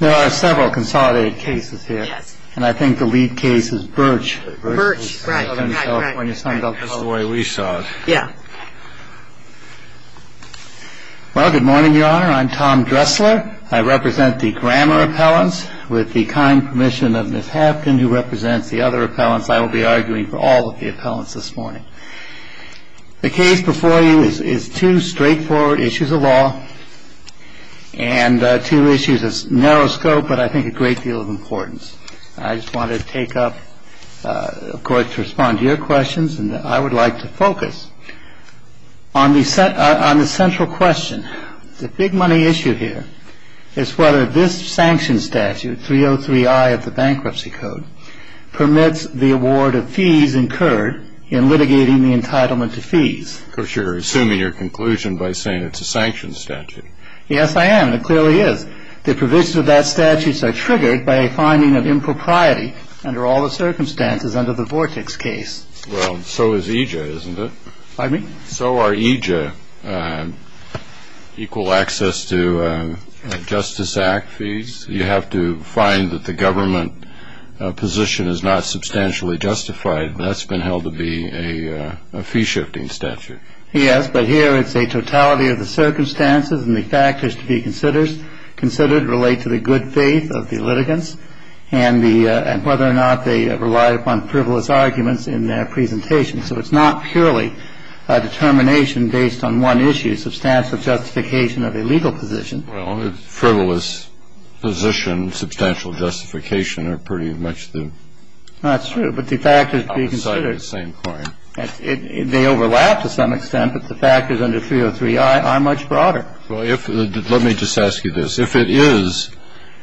There are several consolidated cases here, and I think the lead case is Birch. Birch, right, right, right. That's the way we saw it. Yeah. Well, good morning, Your Honor. I'm Tom Dressler. I represent the Grammar Appellants. With the kind permission of Ms. Hapkin, who represents the other appellants, I will be arguing for all of the appellants this morning. The case before you is two straightforward issues of law and two issues of narrow scope, but I think a great deal of importance. I just wanted to take up, of course, to respond to your questions, and I would like to focus on the central question. The big money issue here is whether this sanction statute, 303I of the Bankruptcy Code, permits the award of fees incurred in litigating the entitlement to fees. Of course, you're assuming your conclusion by saying it's a sanction statute. Yes, I am, and it clearly is. The provisions of that statute are triggered by a finding of impropriety under all the circumstances under the Vortex case. Well, so is EJA, isn't it? Pardon me? So are EJA equal access to Justice Act fees? You have to find that the government position is not substantially justified, and that's been held to be a fee-shifting statute. Yes, but here it's a totality of the circumstances, and the factors to be considered relate to the good faith of the litigants and whether or not they rely upon frivolous arguments in their presentation. So it's not purely a determination based on one issue, substantial justification of a legal position. Well, frivolous position, substantial justification are pretty much the... That's true, but the factors to be considered... I would cite the same point. They overlap to some extent, but the factors under 303i are much broader. Well, let me just ask you this. If it is,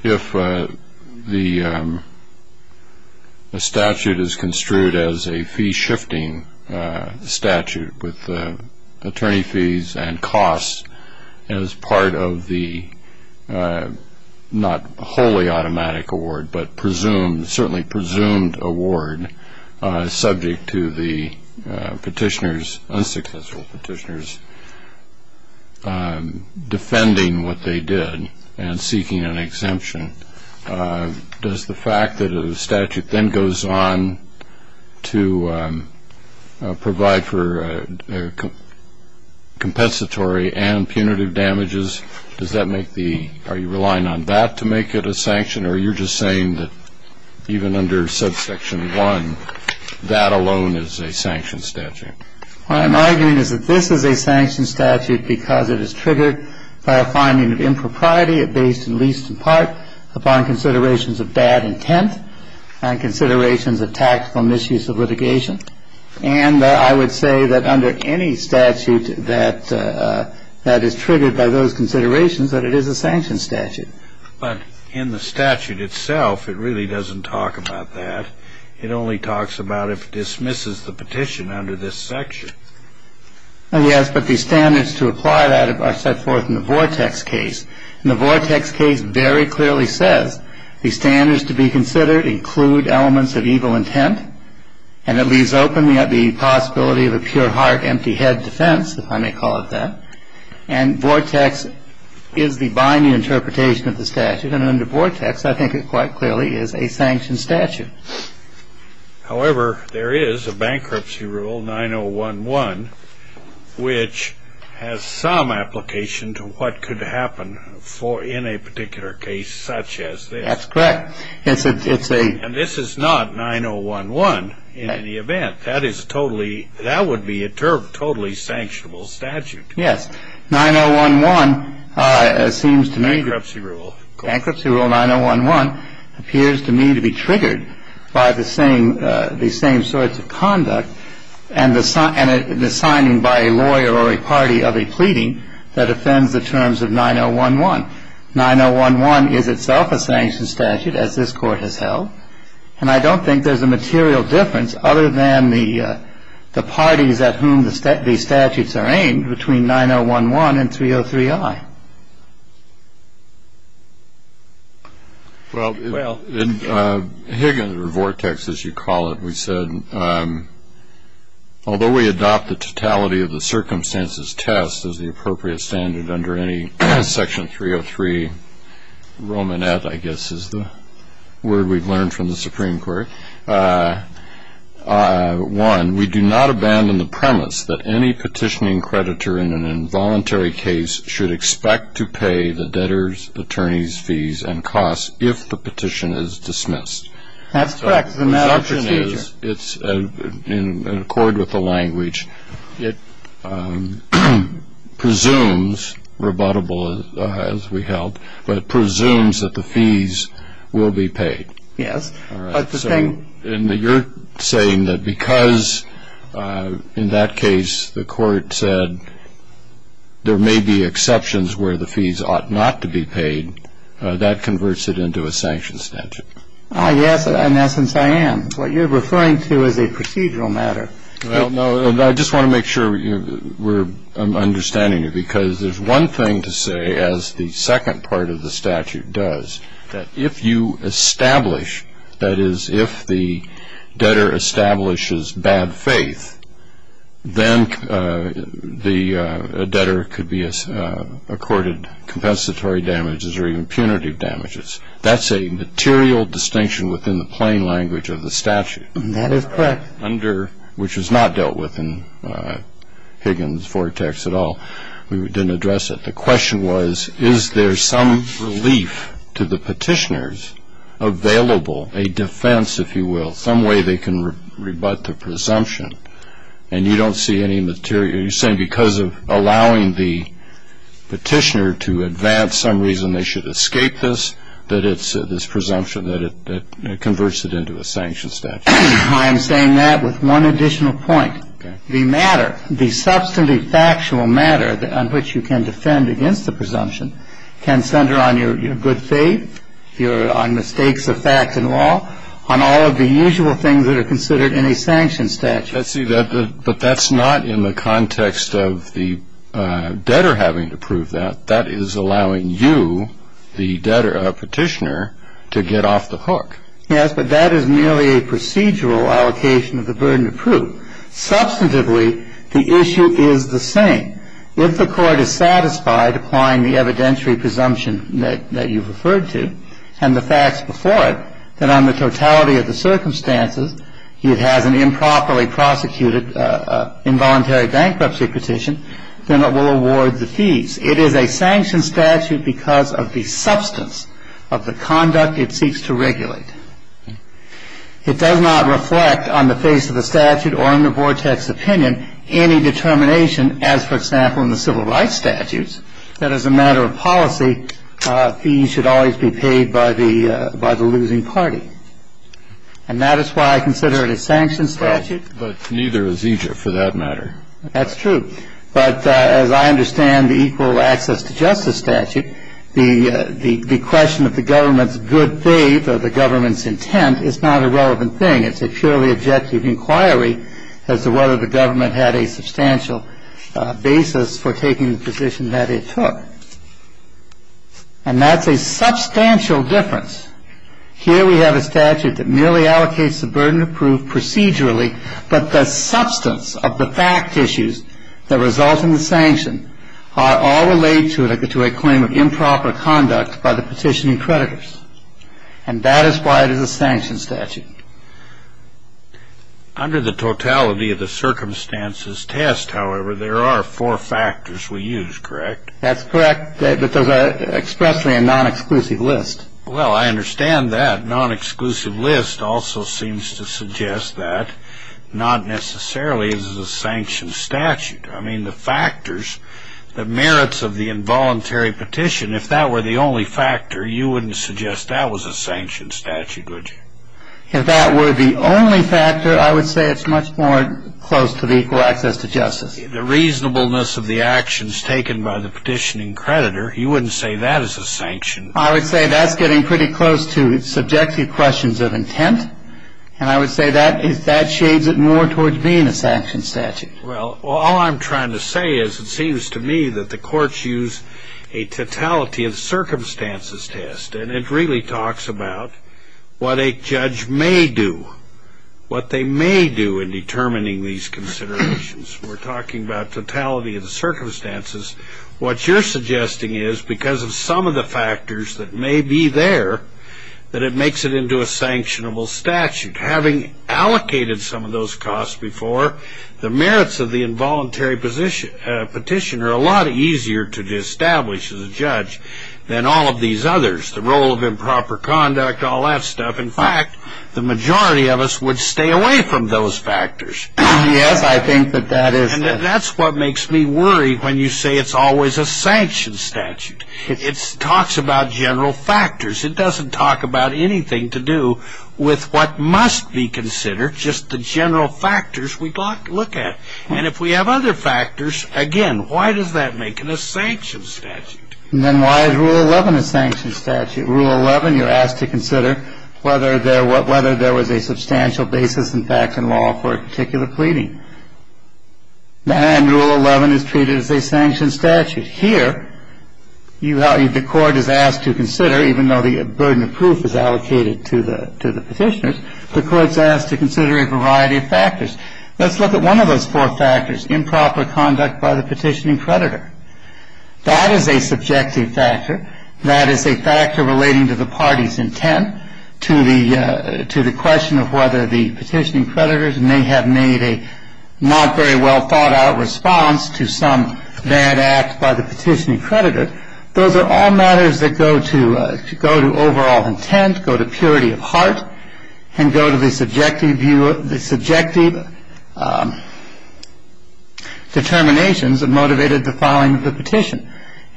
if the statute is construed as a fee-shifting statute with attorney fees and costs as part of the not wholly automatic award, but certainly presumed award subject to the petitioners, unsuccessful petitioners, defending what they did and seeking an exemption, does the fact that a statute then goes on to provide for compensatory and punitive damages, does that make the... Does that mean that even under subsection 1, that alone is a sanction statute? What I'm arguing is that this is a sanction statute because it is triggered by a finding of impropriety based in least in part upon considerations of bad intent and considerations of tactical misuse of litigation. And I would say that under any statute that is triggered by those considerations that it is a sanction statute. But in the statute itself, it really doesn't talk about that. It only talks about if it dismisses the petition under this section. Yes, but the standards to apply that are set forth in the Vortex case. And the Vortex case very clearly says the standards to be considered include elements of evil intent and it leaves open the possibility of a pure heart, empty head defense, if I may call it that. And Vortex is the binding interpretation of the statute. And under Vortex, I think it quite clearly is a sanction statute. However, there is a bankruptcy rule, 9011, which has some application to what could happen in a particular case such as this. That's correct. And this is not 9011 in any event. That would be a totally sanctionable statute. Yes. 9011 seems to me... Bankruptcy rule. Bankruptcy rule 9011 appears to me to be triggered by the same sorts of conduct and the signing by a lawyer or a party of a pleading that offends the terms of 9011. 9011 is itself a sanction statute, as this Court has held. And I don't think there's a material difference other than the parties at whom these statutes are aimed between 9011 and 303I. Well, Higgins or Vortex, as you call it, we said, although we adopt the totality of the circumstances test as the appropriate standard under any section 303, Romanette, I guess, is the word we've learned from the Supreme Court. One, we do not abandon the premise that any petitioning creditor in an involuntary case should expect to pay the debtor's, attorney's fees and costs if the petition is dismissed. That's correct. It's a matter of procedure. It's in accord with the language. It presumes, rebuttable as we held, but presumes that the fees will be paid. Yes. All right. So you're saying that because, in that case, the Court said there may be exceptions where the fees ought not to be paid, that converts it into a sanction statute. Yes, in essence, I am. What you're referring to is a procedural matter. Well, no, and I just want to make sure we're understanding you, because there's one thing to say, as the second part of the statute does, that if you establish, that is, if the debtor establishes bad faith, then the debtor could be accorded compensatory damages or even punitive damages. That's a material distinction within the plain language of the statute. That is correct. Under, which is not dealt with in Higgins' vortex at all. We didn't address it. The question was, is there some relief to the petitioners available, a defense, if you will, some way they can rebut the presumption? And you don't see any material. You're saying because of allowing the petitioner to advance some reason they should escape this, that it's this presumption that it converts it into a sanction statute. I am saying that with one additional point. Okay. The matter, the substantive factual matter on which you can defend against the presumption, can center on your good faith, on mistakes of fact and law, on all of the usual things that are considered in a sanction statute. But that's not in the context of the debtor having to prove that. That is allowing you, the petitioner, to get off the hook. Yes, but that is merely a procedural allocation of the burden of proof. Substantively, the issue is the same. If the Court is satisfied applying the evidentiary presumption that you've referred to, and the facts before it, that on the totality of the circumstances, it has an improperly prosecuted involuntary bankruptcy petition, then it will award the fees. It is a sanction statute because of the substance of the conduct it seeks to regulate. It does not reflect, on the face of the statute or in the vortex opinion, any determination as, for example, in the civil rights statutes, that as a matter of policy, fees should always be paid by the losing party. And that is why I consider it a sanction statute. But neither is Egypt, for that matter. That's true. But as I understand the equal access to justice statute, the question of the government's good faith or the government's intent is not a relevant thing. It's a purely objective inquiry as to whether the government had a substantial basis for taking the position that it took. And that's a substantial difference. Here we have a statute that merely allocates the burden of proof procedurally, but the substance of the fact issues that result in the sanction are all related to a claim of improper conduct by the petitioning creditors. And that is why it is a sanction statute. Under the totality of the circumstances test, however, there are four factors we use, correct? That's correct. But there's expressly a non-exclusive list. Well, I understand that. Non-exclusive list also seems to suggest that, not necessarily as a sanction statute. I mean, the factors, the merits of the involuntary petition, if that were the only factor, you wouldn't suggest that was a sanction statute, would you? If that were the only factor, I would say it's much more close to the equal access to justice. The reasonableness of the actions taken by the petitioning creditor, you wouldn't say that is a sanction. I would say that's getting pretty close to subjective questions of intent, and I would say that shades it more towards being a sanction statute. Well, all I'm trying to say is it seems to me that the courts use a totality of circumstances test, and it really talks about what a judge may do, what they may do in determining these considerations. We're talking about totality of the circumstances. What you're suggesting is, because of some of the factors that may be there, that it makes it into a sanctionable statute. Having allocated some of those costs before, the merits of the involuntary petition are a lot easier to establish as a judge than all of these others, the role of improper conduct, all that stuff. In fact, the majority of us would stay away from those factors. Yes, I think that that is true. And that's what makes me worry when you say it's always a sanction statute. It talks about general factors. It doesn't talk about anything to do with what must be considered, just the general factors we look at. And if we have other factors, again, why does that make it a sanction statute? And then why is Rule 11 a sanction statute? Rule 11, you're asked to consider whether there was a substantial basis in fact and law for a particular pleading. And Rule 11 is treated as a sanction statute. Here, the court is asked to consider, even though the burden of proof is allocated to the petitioners, the court's asked to consider a variety of factors. Let's look at one of those four factors, improper conduct by the petitioning creditor. That is a subjective factor. That is a factor relating to the party's intent to the question of whether the petitioning creditors may have made a not very well-thought-out response to some bad act by the petitioning creditor. Those are all matters that go to overall intent, go to purity of heart, and go to the subjective determinations that motivated the filing of the petition.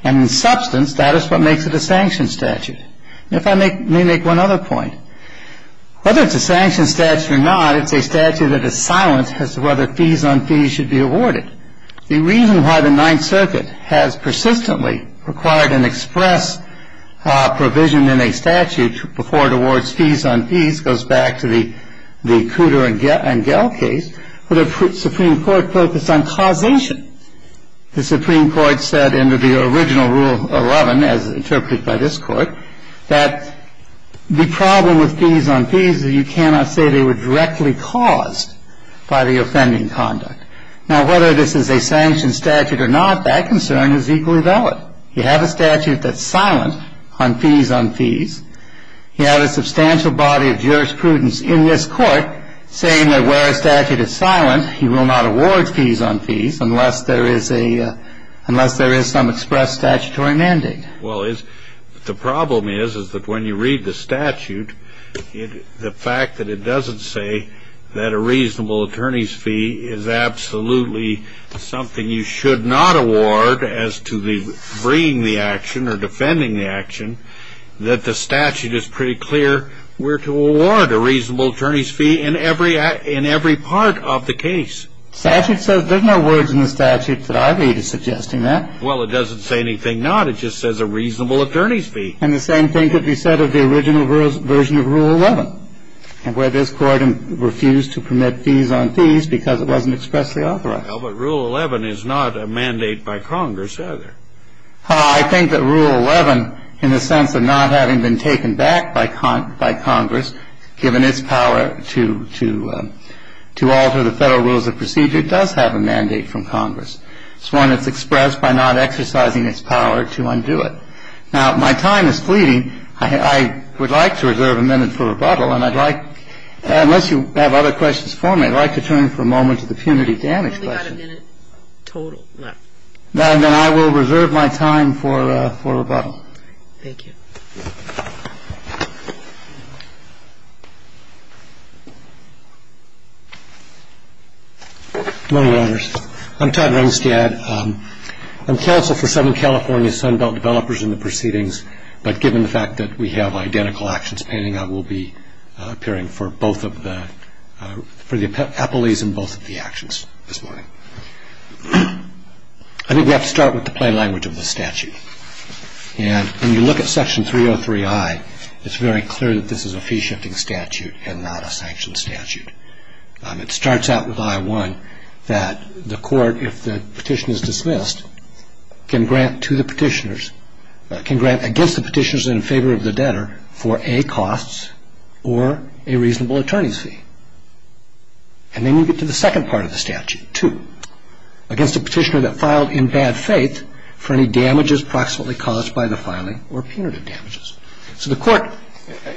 And in substance, that is what makes it a sanction statute. And if I may make one other point, whether it's a sanction statute or not, it's a statute that is silent as to whether fees on fees should be awarded. The reason why the Ninth Circuit has persistently required an express provision in a statute before it awards fees on fees goes back to the Cooter and Gehl case, where the Supreme Court focused on causation. The Supreme Court said under the original Rule 11, as interpreted by this Court, that the problem with fees on fees is you cannot say they were directly caused by the offending conduct. Now, whether this is a sanction statute or not, that concern is equally valid. You have a statute that's silent on fees on fees. You have a substantial body of jurisprudence in this Court saying that where a statute is silent, you will not award fees on fees unless there is a – unless there is some express statutory mandate. Well, the problem is, is that when you read the statute, the fact that it doesn't say that a reasonable attorney's fee is absolutely something you should not award as to bringing the action or defending the action, that the statute is pretty clear where to award a reasonable attorney's fee in every part of the case. The statute says – there's no words in the statute that I read suggesting that. Well, it doesn't say anything not. It just says a reasonable attorney's fee. And the same thing could be said of the original version of Rule 11, where this Court refused to permit fees on fees because it wasn't expressly authorized. Well, but Rule 11 is not a mandate by Congress, either. I think that Rule 11, in the sense of not having been taken back by Congress, given its power to alter the Federal rules of procedure, does have a mandate from Congress. It's one that's expressed by not exercising its power to undo it. Now, my time is fleeting. I would like to reserve a minute for rebuttal, and I'd like – unless you have other questions for me, I'd like to turn for a moment to the punitive damage question. We've only got a minute total left. Then I will reserve my time for rebuttal. Thank you. Good morning, Your Honors. I'm Todd Runstad. I'm counsel for seven California Sunbelt developers in the proceedings, but given the fact that we have identical actions pending, I will be appearing for both of the – for the appellees in both of the actions this morning. I think we have to start with the plain language of the statute. And when you look at Section 303I, it's very clear that this is a fee-shifting statute and not a sanctioned statute. It starts out with I-1 that the court, if the petition is dismissed, can grant to the petitioners – can grant against the petitioners in favor of the debtor for A, costs, or a reasonable attorney's fee. And then you get to the second part of the statute, 2, against the petitioner that filed in bad faith for any damages proximately caused by the filing or punitive damages. So the court,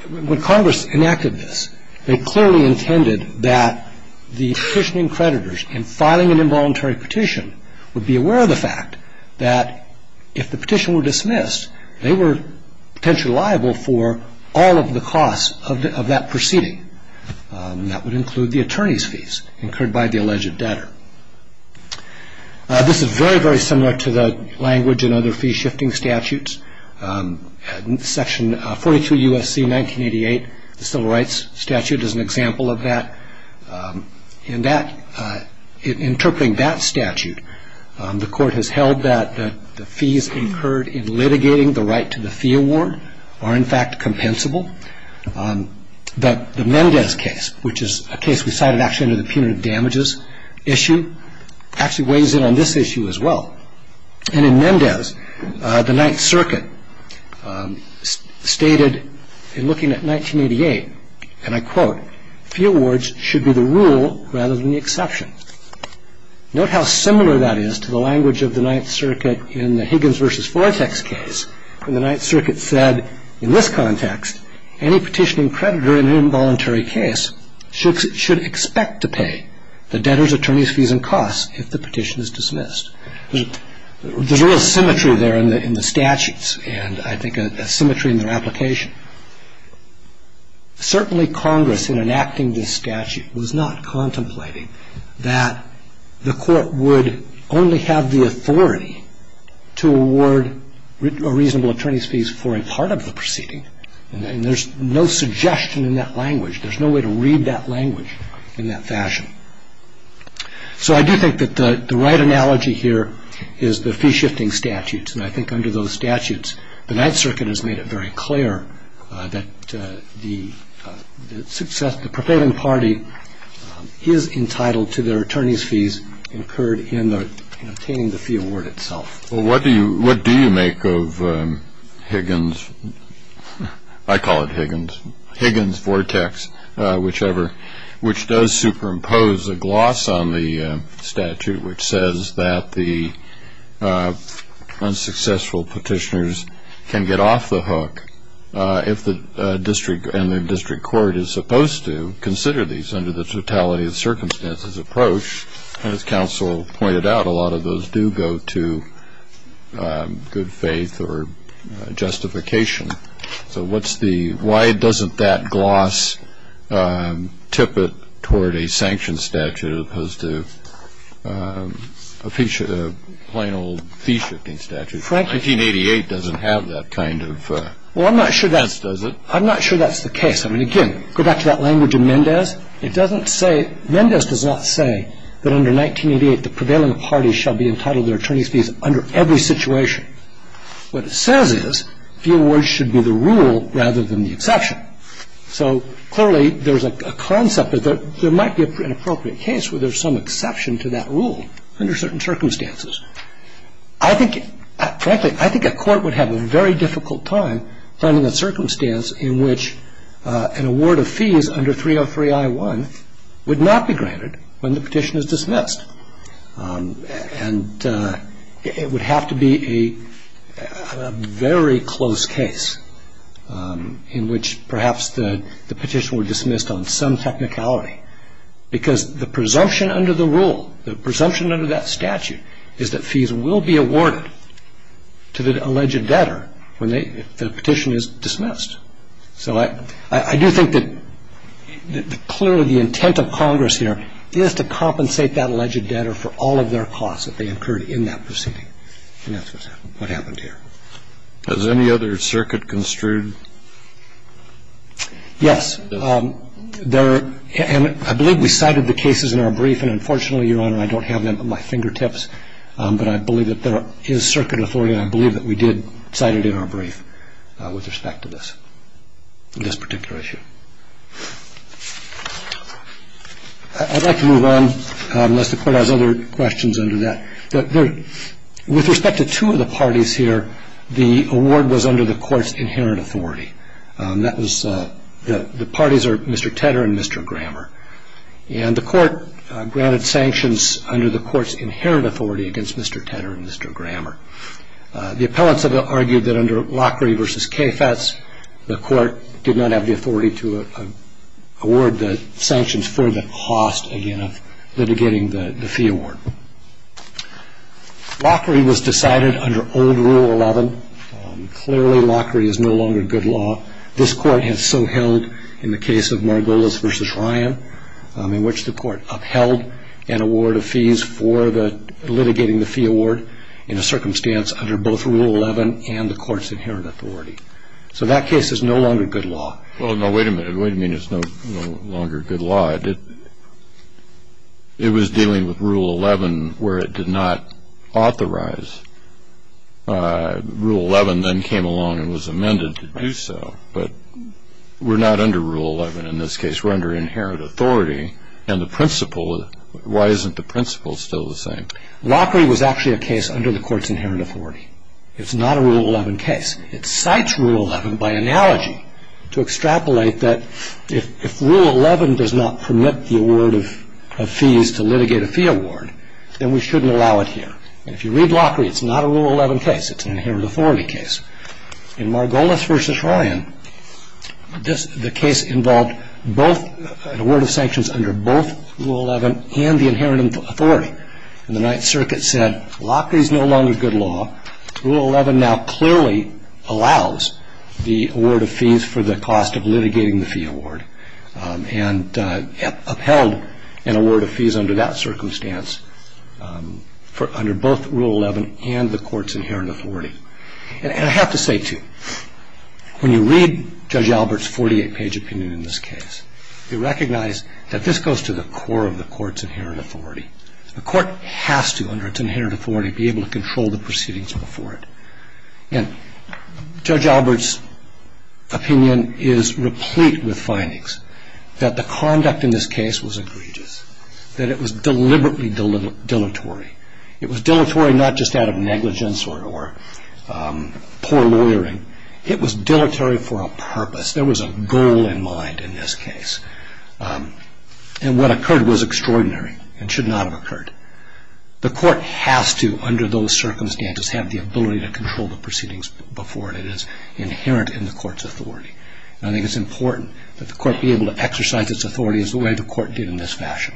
when Congress enacted this, they clearly intended that the petitioning creditors in filing an involuntary petition would be aware of the fact that if the petition were dismissed, they were potentially liable for all of the costs of that proceeding. That would include the attorney's fees incurred by the alleged debtor. This is very, very similar to the language in other fee-shifting statutes. In Section 42 U.S.C. 1988, the Civil Rights Statute is an example of that. In that – in interpreting that statute, the court has held that the fees incurred in litigating the right to the fee award are, in fact, compensable. But the Mendez case, which is a case we cited actually under the punitive damages issue, actually weighs in on this issue as well. And in Mendez, the Ninth Circuit stated, in looking at 1988, and I quote, fee awards should be the rule rather than the exception. Note how similar that is to the language of the Ninth Circuit in the Higgins v. Vortex case, when the Ninth Circuit said, in this context, any petitioning creditor in an involuntary case should expect to pay the debtor's attorney's fees and costs if the petition is dismissed. There's a real symmetry there in the statutes, and I think a symmetry in their application. Certainly, Congress, in enacting this statute, was not contemplating that the court would only have the authority to award a reasonable attorney's fees for a part of the proceeding. And there's no suggestion in that language. There's no way to read that language in that fashion. So I do think that the right analogy here is the fee-shifting statutes, and I think under those statutes, the Ninth Circuit has made it very clear that the proponent party is entitled to their attorney's fees incurred in obtaining the fee award itself. Well, what do you make of Higgins? I call it Higgins. Higgins, Vortex, whichever, which does superimpose a gloss on the statute which says that the unsuccessful petitioners can get off the hook if the district and the district court is supposed to consider these under the totality of circumstances approach. And as counsel pointed out, a lot of those do go to good faith or justification. So why doesn't that gloss tip it toward a sanctioned statute as opposed to a plain old fee-shifting statute? 1988 doesn't have that kind of stance, does it? Well, I'm not sure that's the case. I mean, again, go back to that language in Mendez. It doesn't say ñ Mendez does not say that under 1988, the prevailing party shall be entitled to their attorney's fees under every situation. What it says is the award should be the rule rather than the exception. So clearly there's a concept that there might be an appropriate case where there's some exception to that rule under certain circumstances. I think ñ frankly, I think a court would have a very difficult time finding a circumstance in which an award of fees under 303I1 would not be granted when the petition is dismissed. And it would have to be a very close case in which perhaps the petition were dismissed on some technicality. Because the presumption under the rule, the presumption under that statute, is that fees will be awarded to the alleged debtor when the petition is dismissed. So I do think that clearly the intent of Congress here is to compensate that alleged debtor for all of their costs that they incurred in that proceeding. And that's what happened here. Has any other circuit construed? Yes. And I believe we cited the cases in our brief. And unfortunately, Your Honor, I don't have them at my fingertips. But I believe that there is circuit authority. And I believe that we did cite it in our brief with respect to this particular issue. I'd like to move on unless the Court has other questions under that. With respect to two of the parties here, the award was under the Court's inherent authority. That was ñ the parties are Mr. Tedder and Mr. Grammer. And the Court granted sanctions under the Court's inherent authority against Mr. Tedder and Mr. Grammer. The appellants have argued that under Lockery v. Kafetz, the Court did not have the authority to award the sanctions for the cost, again, of litigating the fee award. Lockery was decided under old Rule 11. Clearly, Lockery is no longer good law. This Court has so held in the case of Margolis v. Ryan, in which the Court upheld an award of fees for the litigating the fee award in a circumstance under both Rule 11 and the Court's inherent authority. So that case is no longer good law. Well, no, wait a minute. Wait a minute. It's no longer good law. It was dealing with Rule 11 where it did not authorize. Rule 11 then came along and was amended to do so. But we're not under Rule 11 in this case. We're under inherent authority. And the principle ñ why isn't the principle still the same? Lockery was actually a case under the Court's inherent authority. It's not a Rule 11 case. It cites Rule 11 by analogy to extrapolate that if Rule 11 does not permit the award of fees to litigate a fee award, then we shouldn't allow it here. And if you read Lockery, it's not a Rule 11 case. It's an inherent authority case. In Margolis v. Ryan, the case involved both an award of sanctions under both Rule 11 and the inherent authority. And the Ninth Circuit said Lockery is no longer good law. Rule 11 now clearly allows the award of fees for the cost of litigating the fee award and upheld an award of fees under that circumstance under both Rule 11 and the Court's inherent authority. And I have to say, too, when you read Judge Albert's 48-page opinion in this case, you recognize that this goes to the core of the Court's inherent authority. The Court has to, under its inherent authority, be able to control the proceedings before it. And Judge Albert's opinion is replete with findings that the conduct in this case was egregious, that it was deliberately dilatory. It was dilatory not just out of negligence or poor lawyering. It was dilatory for a purpose. There was a goal in mind in this case. And what occurred was extraordinary and should not have occurred. The Court has to, under those circumstances, have the ability to control the proceedings before it. It is inherent in the Court's authority. And I think it's important that the Court be able to exercise its authority as the way the Court did in this fashion,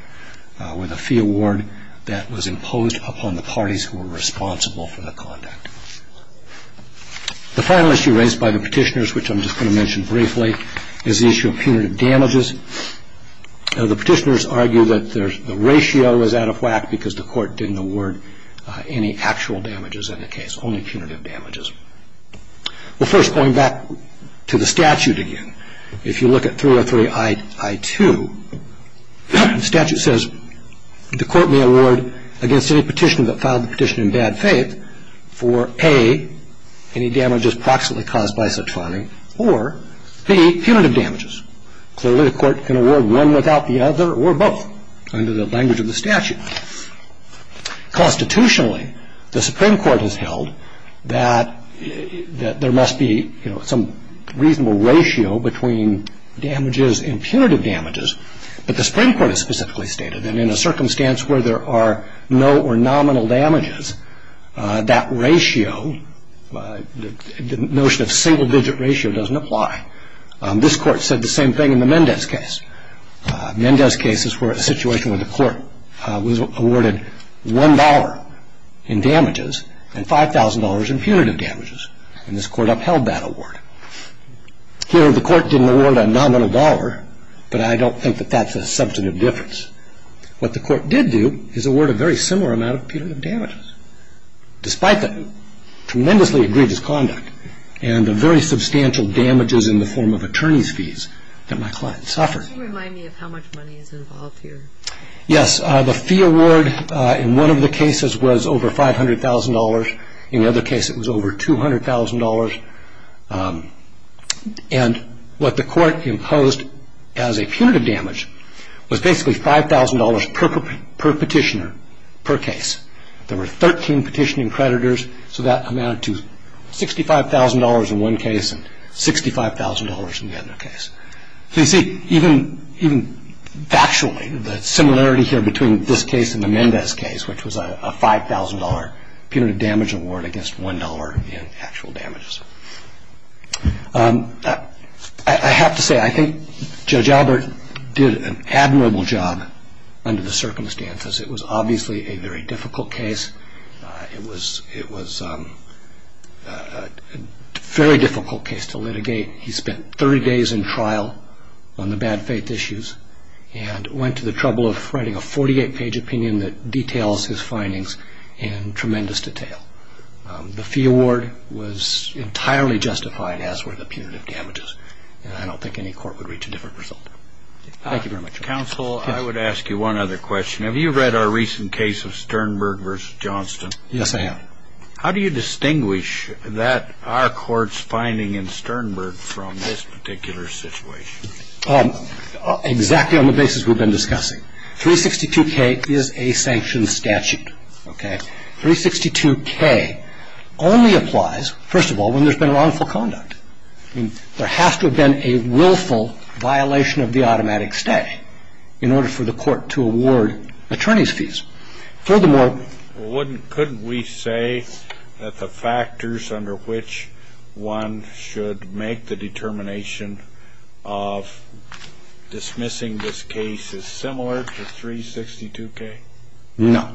with a fee award that was imposed upon the parties who were responsible for the conduct. The final issue raised by the petitioners, which I'm just going to mention briefly, is the issue of punitive damages. Now, the petitioners argue that the ratio was out of whack because the Court didn't award any actual damages in the case, only punitive damages. Well, first, going back to the statute again, if you look at 303-I-2, the statute says, the Court may award against any petitioner that filed the petition in bad faith for, A, any damages proximately caused by such farming, or, B, punitive damages. Clearly, the Court can award one without the other or both, under the language of the statute. Constitutionally, the Supreme Court has held that there must be some reasonable ratio between damages and punitive damages, but the Supreme Court has specifically stated that in a circumstance where there are no or nominal damages, that ratio, the notion of single-digit ratio, doesn't apply. This Court said the same thing in the Mendez case. Mendez cases were a situation where the Court was awarded $1 in damages and $5,000 in punitive damages, and this Court upheld that award. Here, the Court didn't award a nominal dollar, but I don't think that that's a substantive difference. What the Court did do is award a very similar amount of punitive damages. Despite the tremendously egregious conduct and the very substantial damages in the form of attorney's fees that my client suffered. Can you remind me of how much money is involved here? Yes, the fee award in one of the cases was over $500,000. In the other case, it was over $200,000. And what the Court imposed as a punitive damage was basically $5,000 per petitioner, per case. There were 13 petitioning creditors, so that amounted to $65,000 in one case and $65,000 in the other case. So you see, even factually, the similarity here between this case and the Mendez case, which was a $5,000 punitive damage award against $1 in actual damages. I have to say, I think Judge Albert did an admirable job under the circumstances. It was obviously a very difficult case. It was a very difficult case to litigate. He spent 30 days in trial on the bad faith issues and went to the trouble of writing a 48-page opinion that details his findings in tremendous detail. The fee award was entirely justified, as were the punitive damages. I don't think any court would reach a different result. Thank you very much. Counsel, I would ask you one other question. Have you read our recent case of Sternberg v. Johnston? Yes, I have. How do you distinguish that our court's finding in Sternberg from this particular situation? Exactly on the basis we've been discussing. 362K is a sanctioned statute. Okay? 362K only applies, first of all, when there's been wrongful conduct. I mean, there has to have been a willful violation of the automatic stay in order for the court to award attorney's fees. Furthermore... Well, couldn't we say that the factors under which one should make the determination of dismissing this case is similar to 362K? No.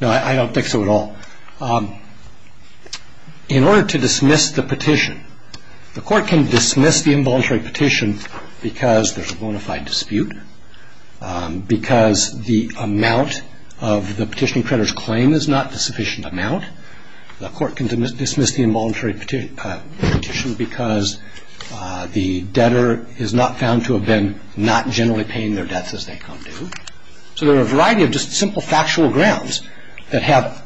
No, I don't think so at all. In order to dismiss the petition, the court can dismiss the involuntary petition because there's a bona fide dispute, because the amount of the petitioning creditor's claim is not a sufficient amount. The court can dismiss the involuntary petition because the debtor is not found to have been not generally paying their debts as they come due. So there are a variety of just simple factual grounds that have...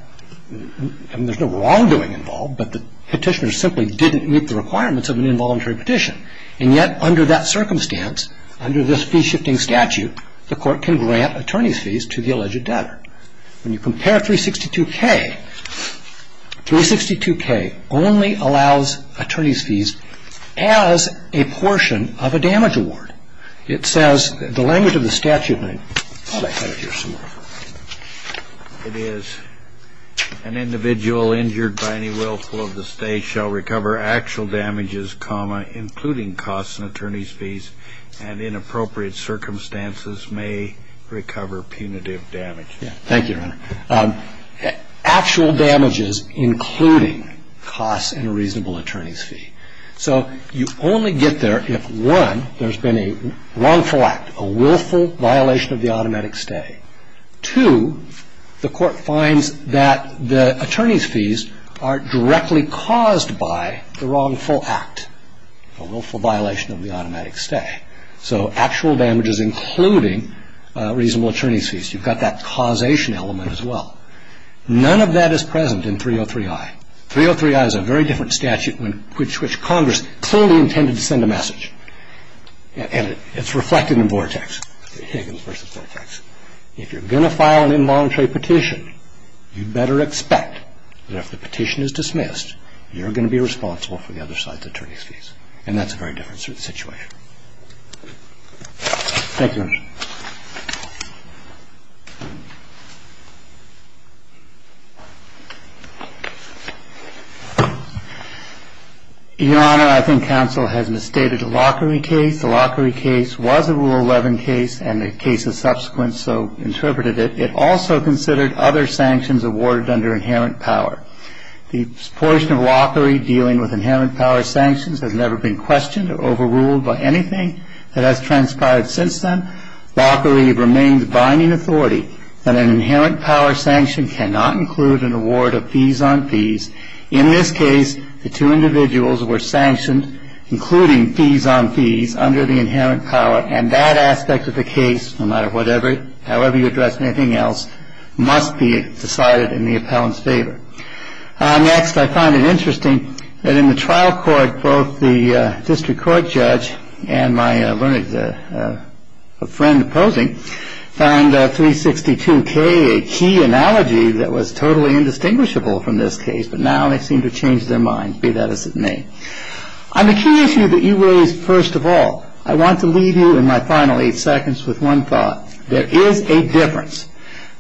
I mean, there's no wrongdoing involved, but the petitioner simply didn't meet the requirements of an involuntary petition. And yet, under that circumstance, under this fee-shifting statute, the court can grant attorney's fees to the alleged debtor. When you compare 362K, 362K only allows attorney's fees as a portion of a damage award. It says, the language of the statute, and I thought I had it here somewhere. It is an individual injured by any willful of the state shall recover actual damages, including costs and attorney's fees, and in appropriate circumstances may recover punitive damage. Thank you, Your Honor. Actual damages including costs and a reasonable attorney's fee. So you only get there if, one, there's been a wrongful act, a willful violation of the automatic stay. Two, the court finds that the attorney's fees are directly caused by the wrongful act, a willful violation of the automatic stay. So actual damages including reasonable attorney's fees. You've got that causation element as well. None of that is present in 303I. 303I is a very different statute which Congress clearly intended to send a message, and it's reflected in Vortex, Higgins v. Vortex. If you're going to file an involuntary petition, you better expect that if the petition is dismissed, you're going to be responsible for the other side's attorney's fees, Thank you, Your Honor. Your Honor, I think counsel has misstated the Lockery case. The Lockery case was a Rule 11 case, and the case of subsequent so interpreted it. It also considered other sanctions awarded under inherent power. The portion of Lockery dealing with inherent power sanctions has never been questioned or overruled by anything that has transpired since then. Lockery remains binding authority, that an inherent power sanction cannot include an award of fees on fees. In this case, the two individuals were sanctioned, including fees on fees under the inherent power, and that aspect of the case, no matter however you address anything else, must be decided in the appellant's favor. Next, I find it interesting that in the trial court, both the district court judge and my learned friend opposing, found 362K a key analogy that was totally indistinguishable from this case, but now they seem to have changed their minds, be that as it may. On the key issue that you raised first of all, I want to leave you in my final eight seconds with one thought. There is a difference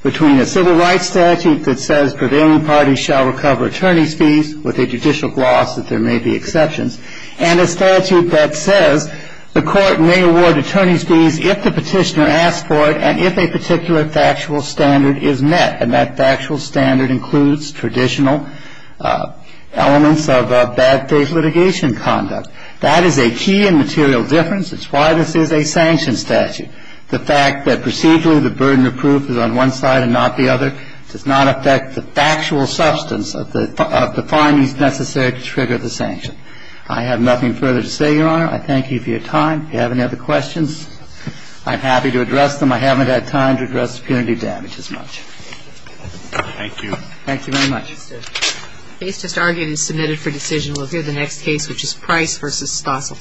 between a civil rights statute that says prevailing parties shall recover attorney's fees, with a judicial gloss that there may be exceptions, and a statute that says the court may award attorney's fees if the petitioner asks for it and if a particular factual standard is met, and that factual standard includes traditional elements of bad faith litigation conduct. That is a key and material difference. It's why this is a sanction statute. The fact that procedurally the burden of proof is on one side and not the other does not affect the factual substance of the findings necessary to trigger the sanction. I have nothing further to say, Your Honor. I thank you for your time. If you have any other questions, I'm happy to address them. I haven't had time to address punitive damage as much. Thank you. Thank you very much. The case just argued and submitted for decision. We'll hear the next case, which is Price v. Stossel.